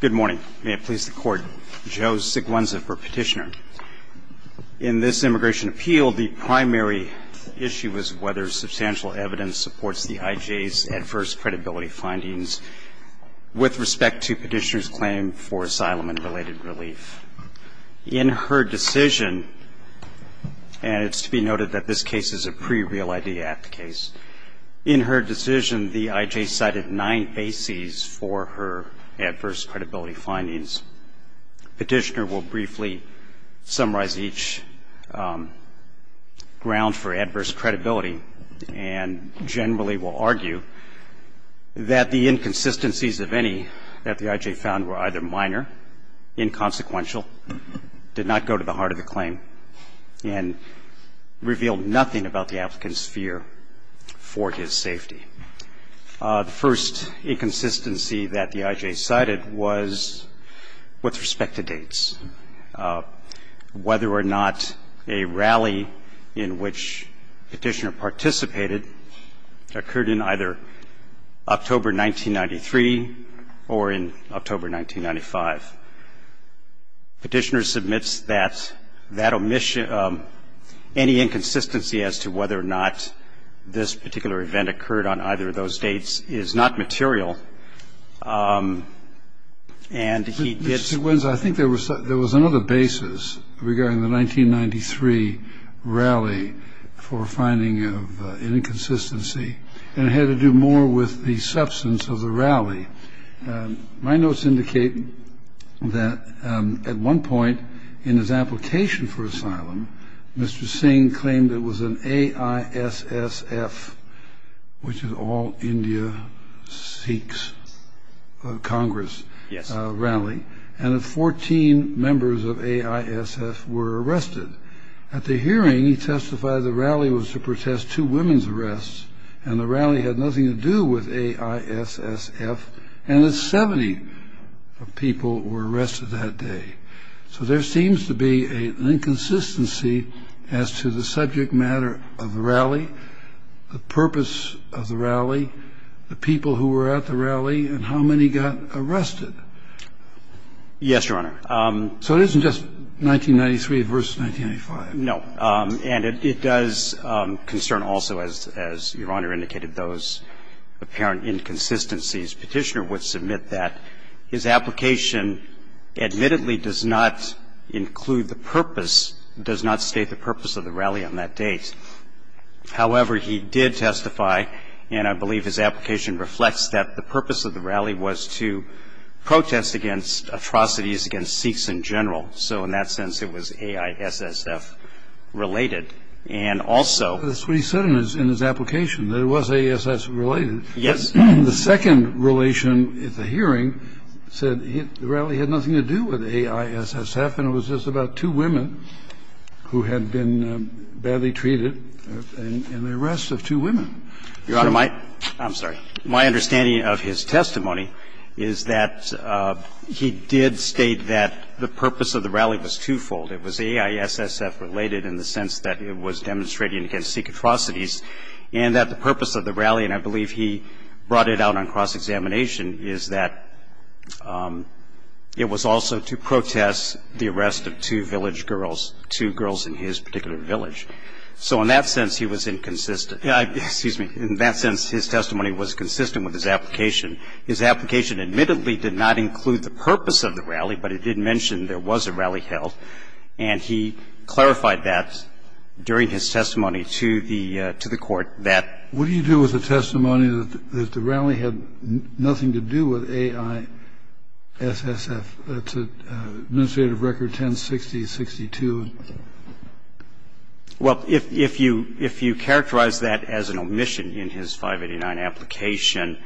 Good morning. May it please the Court. Joe Siguenza for Petitioner. In this Immigration Appeal, the primary issue is whether substantial evidence supports the IJ's adverse credibility findings with respect to Petitioner's claim for asylum and related relief. In her decision, and it's to be noted that this case is a pre-Real ID Act case, in her decision the IJ cited nine bases for her adverse credibility findings. Petitioner will briefly summarize each ground for adverse credibility and generally will argue that the inconsistencies of any that the IJ found were either minor, inconsequential, did not go to the heart of the claim, and revealed nothing about the applicant's fear for his safety. The first inconsistency that the IJ cited was with respect to dates. Whether or not a rally in which Petitioner participated occurred in either October 1993 or in October 1995. Petitioner submits that that omission, any inconsistency as to whether or not this particular event occurred on either of those dates is not material, and he did Mr. Siguenza, I think there was another basis regarding the 1993 rally for finding of an inconsistency, and it had to do more with the substance of the rally. My notes indicate that at one point in his application for asylum, Mr. Singh claimed it was an AISSF, which is All India Sikhs Congress rally, and that 14 members of AISSF were arrested. At the hearing, he testified the rally was to protest two women's arrests, and the rally had nothing to do with AISSF, and that 70 people were arrested that day. So there seems to be an inconsistency as to the subject matter of the rally, the purpose of the rally, the people who were at the rally, and how many got arrested. Yes, Your Honor. So it isn't just 1993 versus 1995. No. And it does concern also, as Your Honor indicated, those apparent inconsistencies. Petitioner would submit that his application admittedly does not include the purpose, does not state the purpose of the rally on that date. However, he did testify, and I believe his application reflects that the purpose of the rally was to protest against atrocities against Sikhs in general. So in that sense, it was AISSF-related. And also he said in his application that it was AISSF-related. Yes. The second relation at the hearing said the rally had nothing to do with AISSF, and it was just about two women who had been badly treated and the arrest of two women. Your Honor, my – I'm sorry. My understanding of his testimony is that he did state that the purpose of the rally was twofold. It was AISSF-related in the sense that it was demonstrating against Sikh atrocities, and that the purpose of the rally, and I believe he brought it out on cross-examination, is that it was also to protest the arrest of two village girls, two girls in his particular village. So in that sense, he was inconsistent. Excuse me. In that sense, his testimony was consistent with his application. His application admittedly did not include the purpose of the rally, but it did mention there was a rally held, and he clarified that during his testimony to the court that What do you do with the testimony that the rally had nothing to do with AISSF? That's an administrative record, 1060-62. Well, if you characterize that as an omission in his 589 application,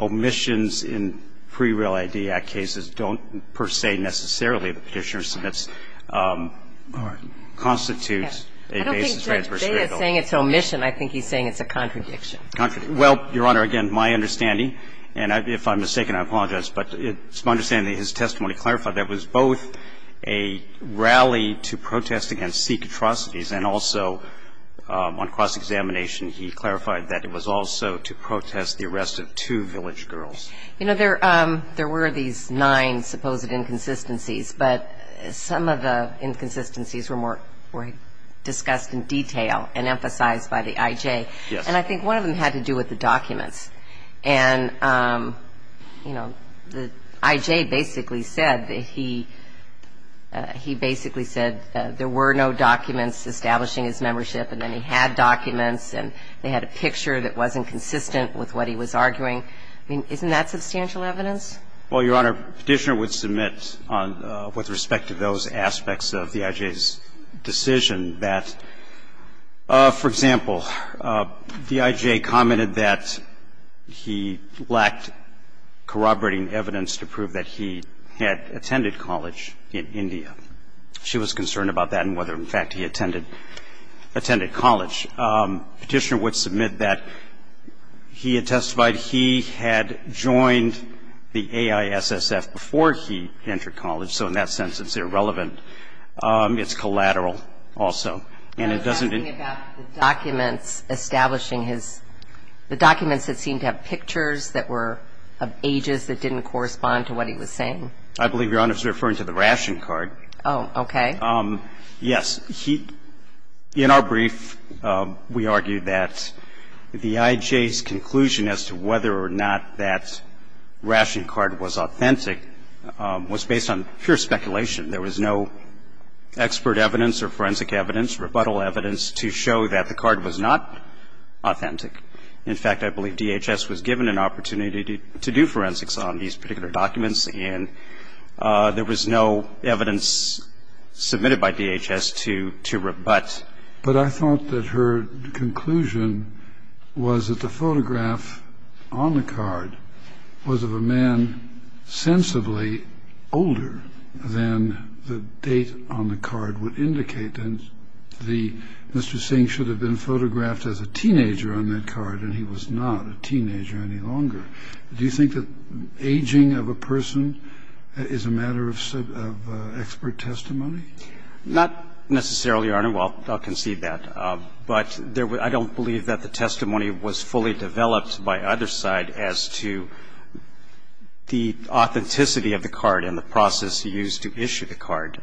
omissions in pre-Real ID Act cases don't per se necessarily, the Petitioner submits, constitute a basis for adverse critical. I don't think Judge Bea is saying it's an omission. I think he's saying it's a contradiction. Well, Your Honor, again, my understanding, and if I'm mistaken, I apologize, but it's my understanding that his testimony clarified that it was both a rally to protest against Sikh atrocities and also on cross-examination he clarified that it was also to protest the arrest of two village girls. You know, there were these nine supposed inconsistencies, but some of the inconsistencies were discussed in detail and emphasized by the IJ. And I think one of them had to do with the documents. And, you know, the IJ basically said that he basically said there were no documents establishing his membership, and then he had documents, and they had a picture that wasn't consistent with what he was arguing. I mean, isn't that substantial evidence? Well, Your Honor, the Petitioner would submit with respect to those aspects of the IJ's decision that, for example, the IJ commented that he lacked corroborating evidence to prove that he had attended college in India. She was concerned about that and whether, in fact, he attended college. Petitioner would submit that he had testified he had joined the AISSF before he entered college, so in that sense it's irrelevant. It's collateral also. And it doesn't I was asking about the documents establishing his the documents that seemed to have pictures that were of ages that didn't correspond to what he was saying. I believe Your Honor is referring to the ration card. Oh, okay. Yes. In our brief, we argued that the IJ's conclusion as to whether or not that ration card was authentic was based on pure speculation. There was no expert evidence or forensic evidence, rebuttal evidence to show that the card was not authentic. In fact, I believe DHS was given an opportunity to do forensics on these particular documents and there was no evidence submitted by DHS to rebut. But I thought that her conclusion was that the photograph on the card was of a man sensibly older than the date on the card would indicate. And Mr. Singh should have been photographed as a teenager on that card and he was not a teenager any longer. Do you think that aging of a person is a matter of expert testimony? Not necessarily, Your Honor. Well, I'll concede that. But I don't believe that the testimony was fully developed by either side as to the authenticity of the card and the process used to issue the card.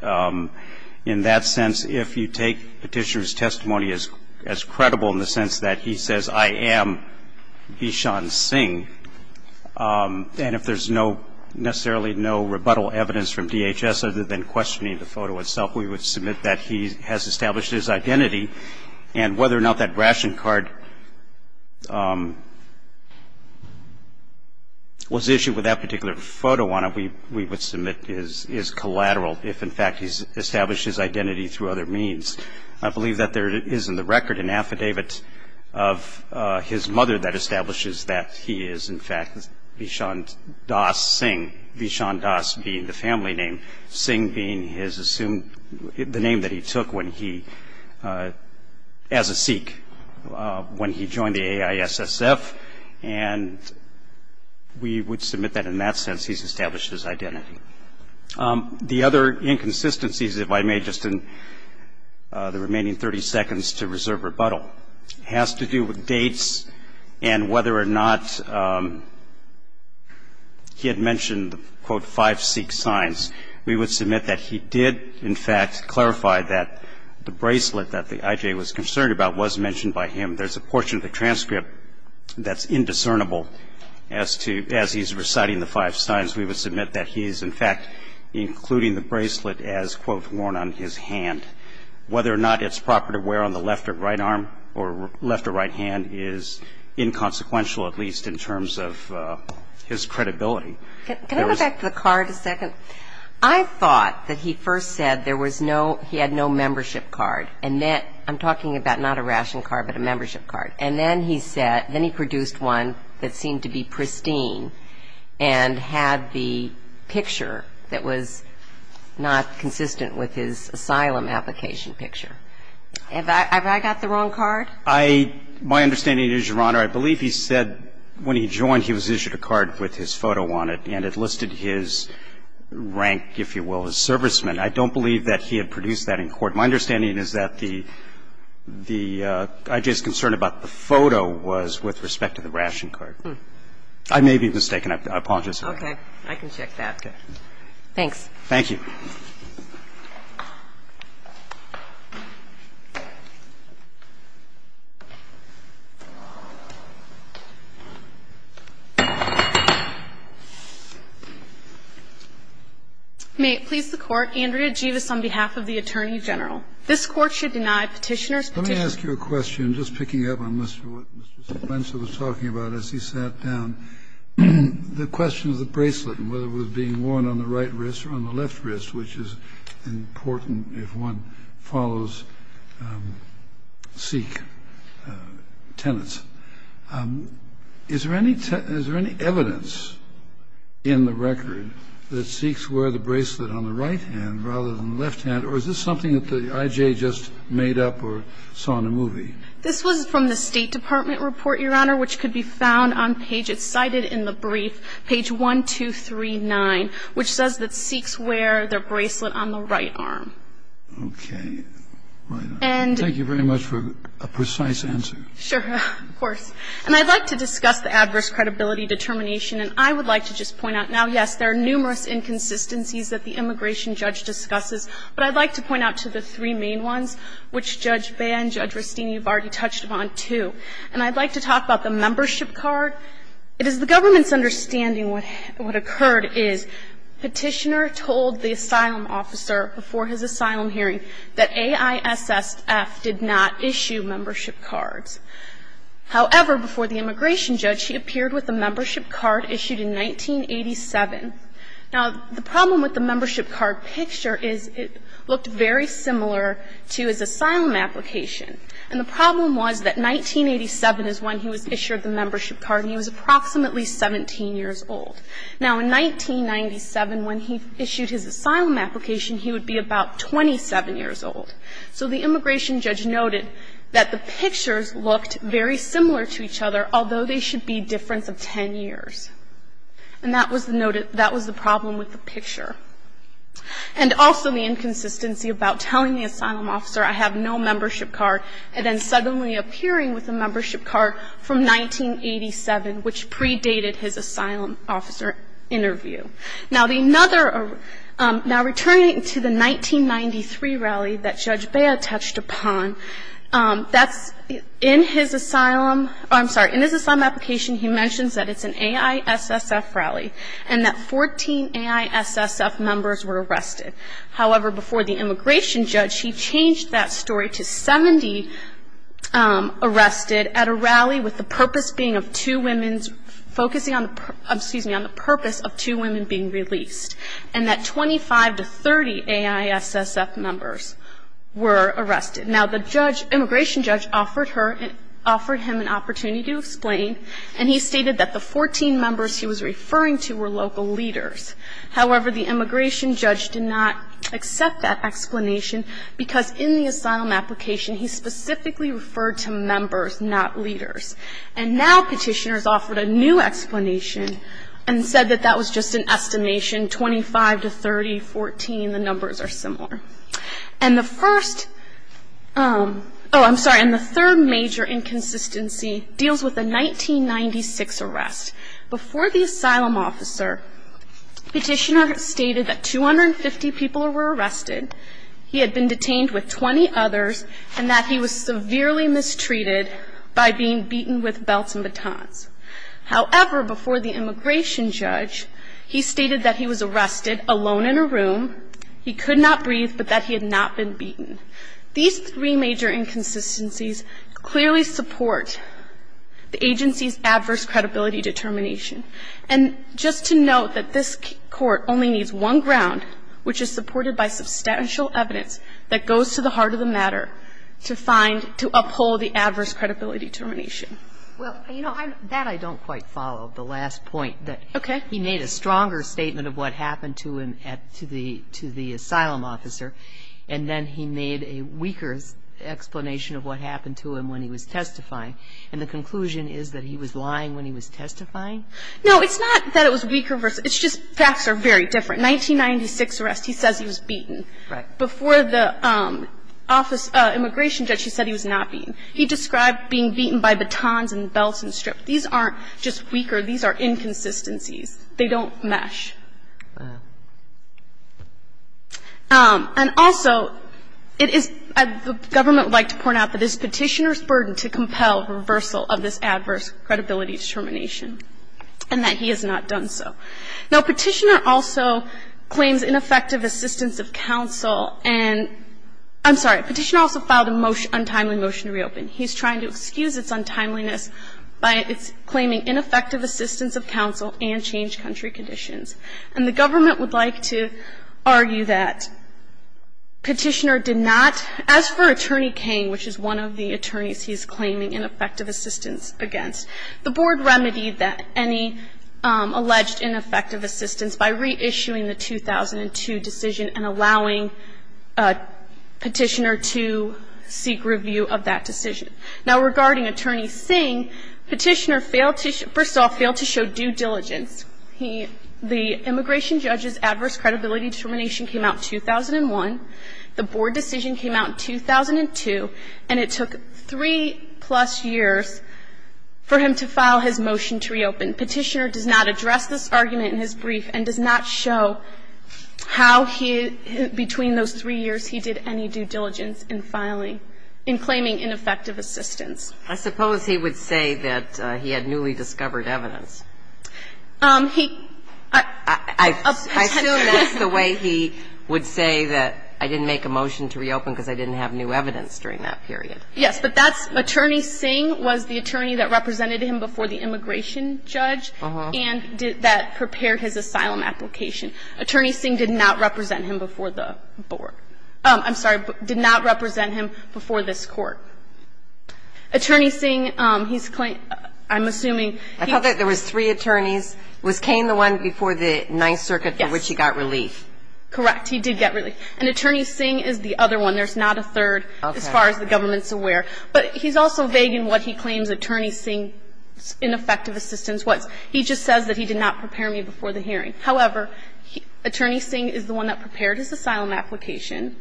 In that sense, if you take Petitioner's testimony as credible in the sense that he says, I am Eshan Singh, and if there's no, necessarily no rebuttal evidence from DHS other than questioning the photo itself, we would submit that he has established his identity and whether or not that ration card was issued with that particular photo on it, we would submit is collateral if, in fact, he's established his identity through other means. I believe that there is in the record an affidavit of his mother that establishes that he is, in fact, Eshan Das Singh, Eshan Das being the family name, Singh being the name that he took as a Sikh when he joined the AISSF, and we would submit that in that sense he's established his identity. The other inconsistencies, if I may, just in the remaining 30 seconds to reserve rebuttal, has to do with dates and whether or not he had mentioned the, quote, five Sikh signs. We would submit that he did, in fact, clarify that the bracelet that the IJ was concerned about was mentioned by him. There's a portion of the transcript that's indiscernible as to, as he's reciting the five signs. We would submit that he is, in fact, including the bracelet as, quote, worn on his hand. Whether or not it's proper to wear on the left or right arm or left or right hand is inconsequential, at least in terms of his credibility. Can I go back to the card a second? I thought that he first said there was no, he had no membership card, and that, I'm talking about not a ration card but a membership card. And then he said, then he produced one that seemed to be pristine and had the picture that was not consistent with his asylum application picture. Have I got the wrong card? I, my understanding is, Your Honor, I believe he said when he joined, he was issued a card with his photo on it, and it listed his rank, if you will, as serviceman. I don't believe that he had produced that in court. My understanding is that the, the IJ's concern about the photo was with respect to the ration card. I may be mistaken. I apologize. I can check that. Thanks. Thank you. May it please the Court. Andrea Jeavis on behalf of the Attorney General. This Court should deny Petitioner's petition. Let me ask you a question, just picking up on what Mr. Spencer was talking about as he sat down. The question of the bracelet and whether it was being worn on the right wrist or on the left wrist, which is important if one follows Sikh tenets. Is there any evidence in the record that Sikhs wear the bracelet on the right hand rather than the left hand? Or is this something that the IJ just made up or saw in a movie? This was from the State Department report, Your Honor, which could be found on page, it's cited in the brief, page 1239, which says that Sikhs wear their bracelet on the right arm. Okay. Thank you very much for a precise answer. Sure. Of course. And I'd like to discuss the adverse credibility determination. And I would like to just point out, now, yes, there are numerous inconsistencies that the immigration judge discusses, but I'd like to point out to the three main ones, which Judge Baer and Judge Ristine, you've already touched upon, too. And I'd like to talk about the membership card. It is the government's understanding what occurred is Petitioner told the asylum officer before his asylum hearing that AISSF did not issue membership cards. However, before the immigration judge, he appeared with a membership card issued in 1987. Now, the problem with the membership card picture is it looked very similar to his asylum application. And the problem was that 1987 is when he was issued the membership card, and he was approximately 17 years old. Now, in 1997, when he issued his asylum application, he would be about 27 years old. So the immigration judge noted that the pictures looked very similar to each other, although they should be a difference of 10 years. And that was the problem with the picture. And also the inconsistency about telling the asylum officer, I have no membership card, and then suddenly appearing with a membership card from 1987, which predated his asylum officer interview. Now, returning to the 1993 rally that Judge Baer touched upon, that's in his asylum or I'm sorry, in his asylum application, he mentions that it's an AISSF rally, and that 14 AISSF members were arrested. However, before the immigration judge, he changed that story to 70 arrested at a rally with the purpose being of two women's focusing on the purpose of two women being released, and that 25 to 30 AISSF members were arrested. Now, the judge, immigration judge, offered him an opportunity to explain, and he stated that the 14 members he was referring to were local leaders. However, the immigration judge did not accept that explanation because in the asylum application, he specifically referred to members, not leaders. And now Petitioners offered a new explanation and said that that was just an estimation, 25 to 30, 14, the numbers are similar. And the first oh, I'm sorry, and the third major inconsistency deals with the 1996 arrest. Before the asylum officer, Petitioner stated that 250 people were arrested, he had been detained with 20 others, and that he was severely mistreated by being beaten with belts and batons. However, before the immigration judge, he stated that he was arrested alone in a room, he could not breathe, but that he had not been beaten. These three major inconsistencies clearly support the agency's adverse credibility determination. And just to note that this Court only needs one ground, which is supported by substantial evidence that goes to the heart of the matter to find, to uphold the adverse credibility determination. Well, you know, that I don't quite follow, the last point. Okay. He made a stronger statement of what happened to him at the asylum officer, and then he made a weaker explanation of what happened to him when he was testifying. And the conclusion is that he was lying when he was testifying? No, it's not that it was weaker. It's just facts are very different. 1996 arrest, he says he was beaten. Right. Before the immigration judge, he said he was not beaten. He described being beaten by batons and belts and strips. These aren't just weaker. These are inconsistencies. They don't mesh. And also, it is the government would like to point out that it is Petitioner's burden to compel reversal of this adverse credibility determination, and that he has not done so. Now, Petitioner also claims ineffective assistance of counsel and – I'm sorry, Petitioner also filed a motion, untimely motion to reopen. He's trying to excuse its untimeliness by its claiming ineffective assistance of counsel and change country conditions. And the government would like to argue that Petitioner did not – as for Attorney King, which is one of the attorneys he's claiming ineffective assistance against, the board remedied any alleged ineffective assistance by reissuing the 2002 decision and allowing Petitioner to seek review of that decision. Now, regarding Attorney Singh, Petitioner failed to – first of all, failed to show due diligence. He – the immigration judge's adverse credibility determination came out in 2001. The board decision came out in 2002, and it took three-plus years for him to file his motion to reopen. Petitioner does not address this argument in his brief and does not show how he – how he is not in effecting ineffective assistance. I suppose he would say that he had newly discovered evidence. He – I assume that's the way he would say that I didn't make a motion to reopen because I didn't have new evidence during that period. Yes, but that's – Attorney Singh was the attorney that represented him before the immigration judge and did – that prepared his asylum application. Attorney Singh did not represent him before the board. I'm sorry. Did not represent him before this Court. Attorney Singh, he's – I'm assuming he – I thought that there was three attorneys. Was Cain the one before the Ninth Circuit for which he got relief? Yes. Correct. He did get relief. And Attorney Singh is the other one. There's not a third as far as the government's aware. Okay. But he's also vague in what he claims Attorney Singh's ineffective assistance He just says that he did not prepare me before the hearing. However, Attorney Singh is the one that prepared his asylum application.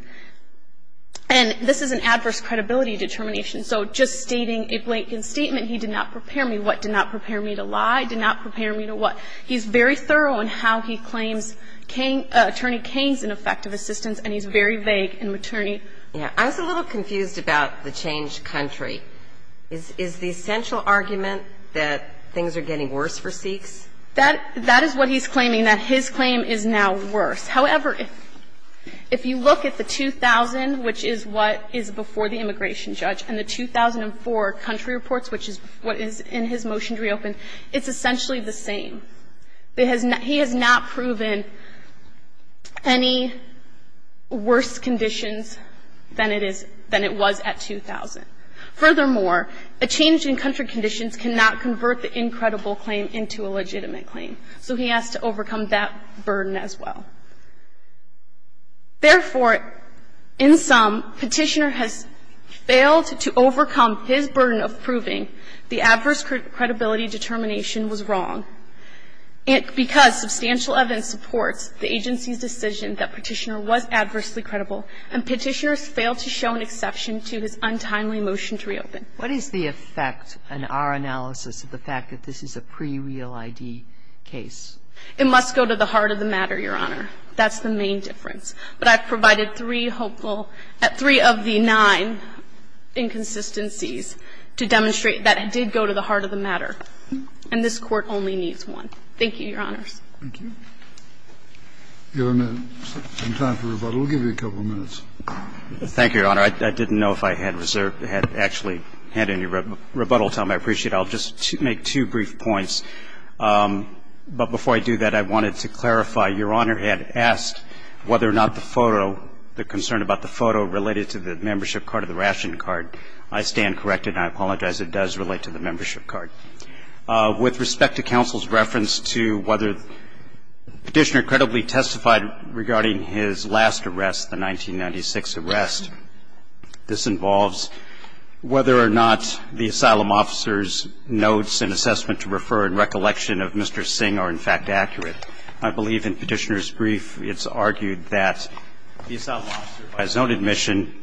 And this is an adverse credibility determination. So just stating a blatant statement, he did not prepare me, what did not prepare me to lie, did not prepare me to what. He's very thorough in how he claims Cain – Attorney Cain's ineffective assistance, and he's very vague in maternity. Yeah. I was a little confused about the changed country. Is the essential argument that things are getting worse for Sikhs? That is what he's claiming, that his claim is now worse. However, if you look at the 2000, which is what is before the immigration judge, and the 2004 country reports, which is what is in his motion to reopen, it's essentially the same. He has not proven any worse conditions than it is – than it was at 2000. Furthermore, a change in country conditions cannot convert the incredible claim into a legitimate claim. So he has to overcome that burden as well. Therefore, in sum, Petitioner has failed to overcome his burden of proving the adverse credibility determination was wrong. Because substantial evidence supports the agency's decision that Petitioner was adversely credible, and Petitioner has failed to show an exception to his untimely motion to reopen. What is the effect in our analysis of the fact that this is a pre-real ID case? It must go to the heart of the matter, Your Honor. That's the main difference. But I've provided three hopeful – three of the nine inconsistencies to demonstrate that it did go to the heart of the matter. And this Court only needs one. Thank you, Your Honors. Thank you. Your Honor, in time for rebuttal, we'll give you a couple of minutes. Thank you, Your Honor. I didn't know if I had reserve – had actually had any rebuttal time. I appreciate it. I'll just make two brief points. But before I do that, I wanted to clarify. Your Honor had asked whether or not the photo – the concern about the photo related to the membership card or the ration card. I stand corrected, and I apologize. It does relate to the membership card. With respect to counsel's reference to whether Petitioner credibly testified regarding his last arrest, the 1996 arrest, this involves whether or not the asylum officer's notes and assessment to refer and recollection of Mr. Singh are, in fact, accurate. I believe in Petitioner's brief it's argued that the asylum officer, by his own admission,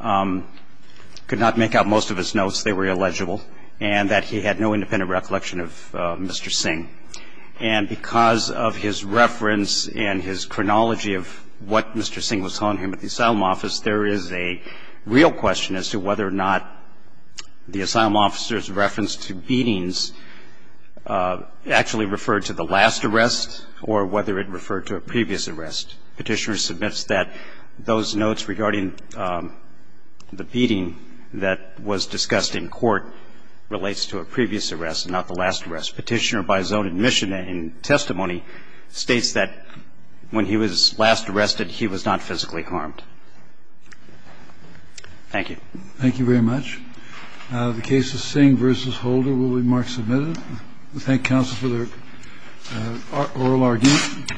could not make out most of his notes. They were illegible. And that he had no independent recollection of Mr. Singh. And because of his reference and his chronology of what Mr. Singh was telling him at the asylum office, there is a real question as to whether or not the asylum officer's reference to beatings actually referred to the last arrest or whether it referred to a previous arrest. Petitioner submits that those notes regarding the beating that was discussed in court relates to a previous arrest and not the last arrest. Petitioner, by his own admission and testimony, states that when he was last arrested, he was not physically harmed. Thank you. Thank you very much. The case of Singh v. Holder will be mark submitted. We thank counsel for their oral argument.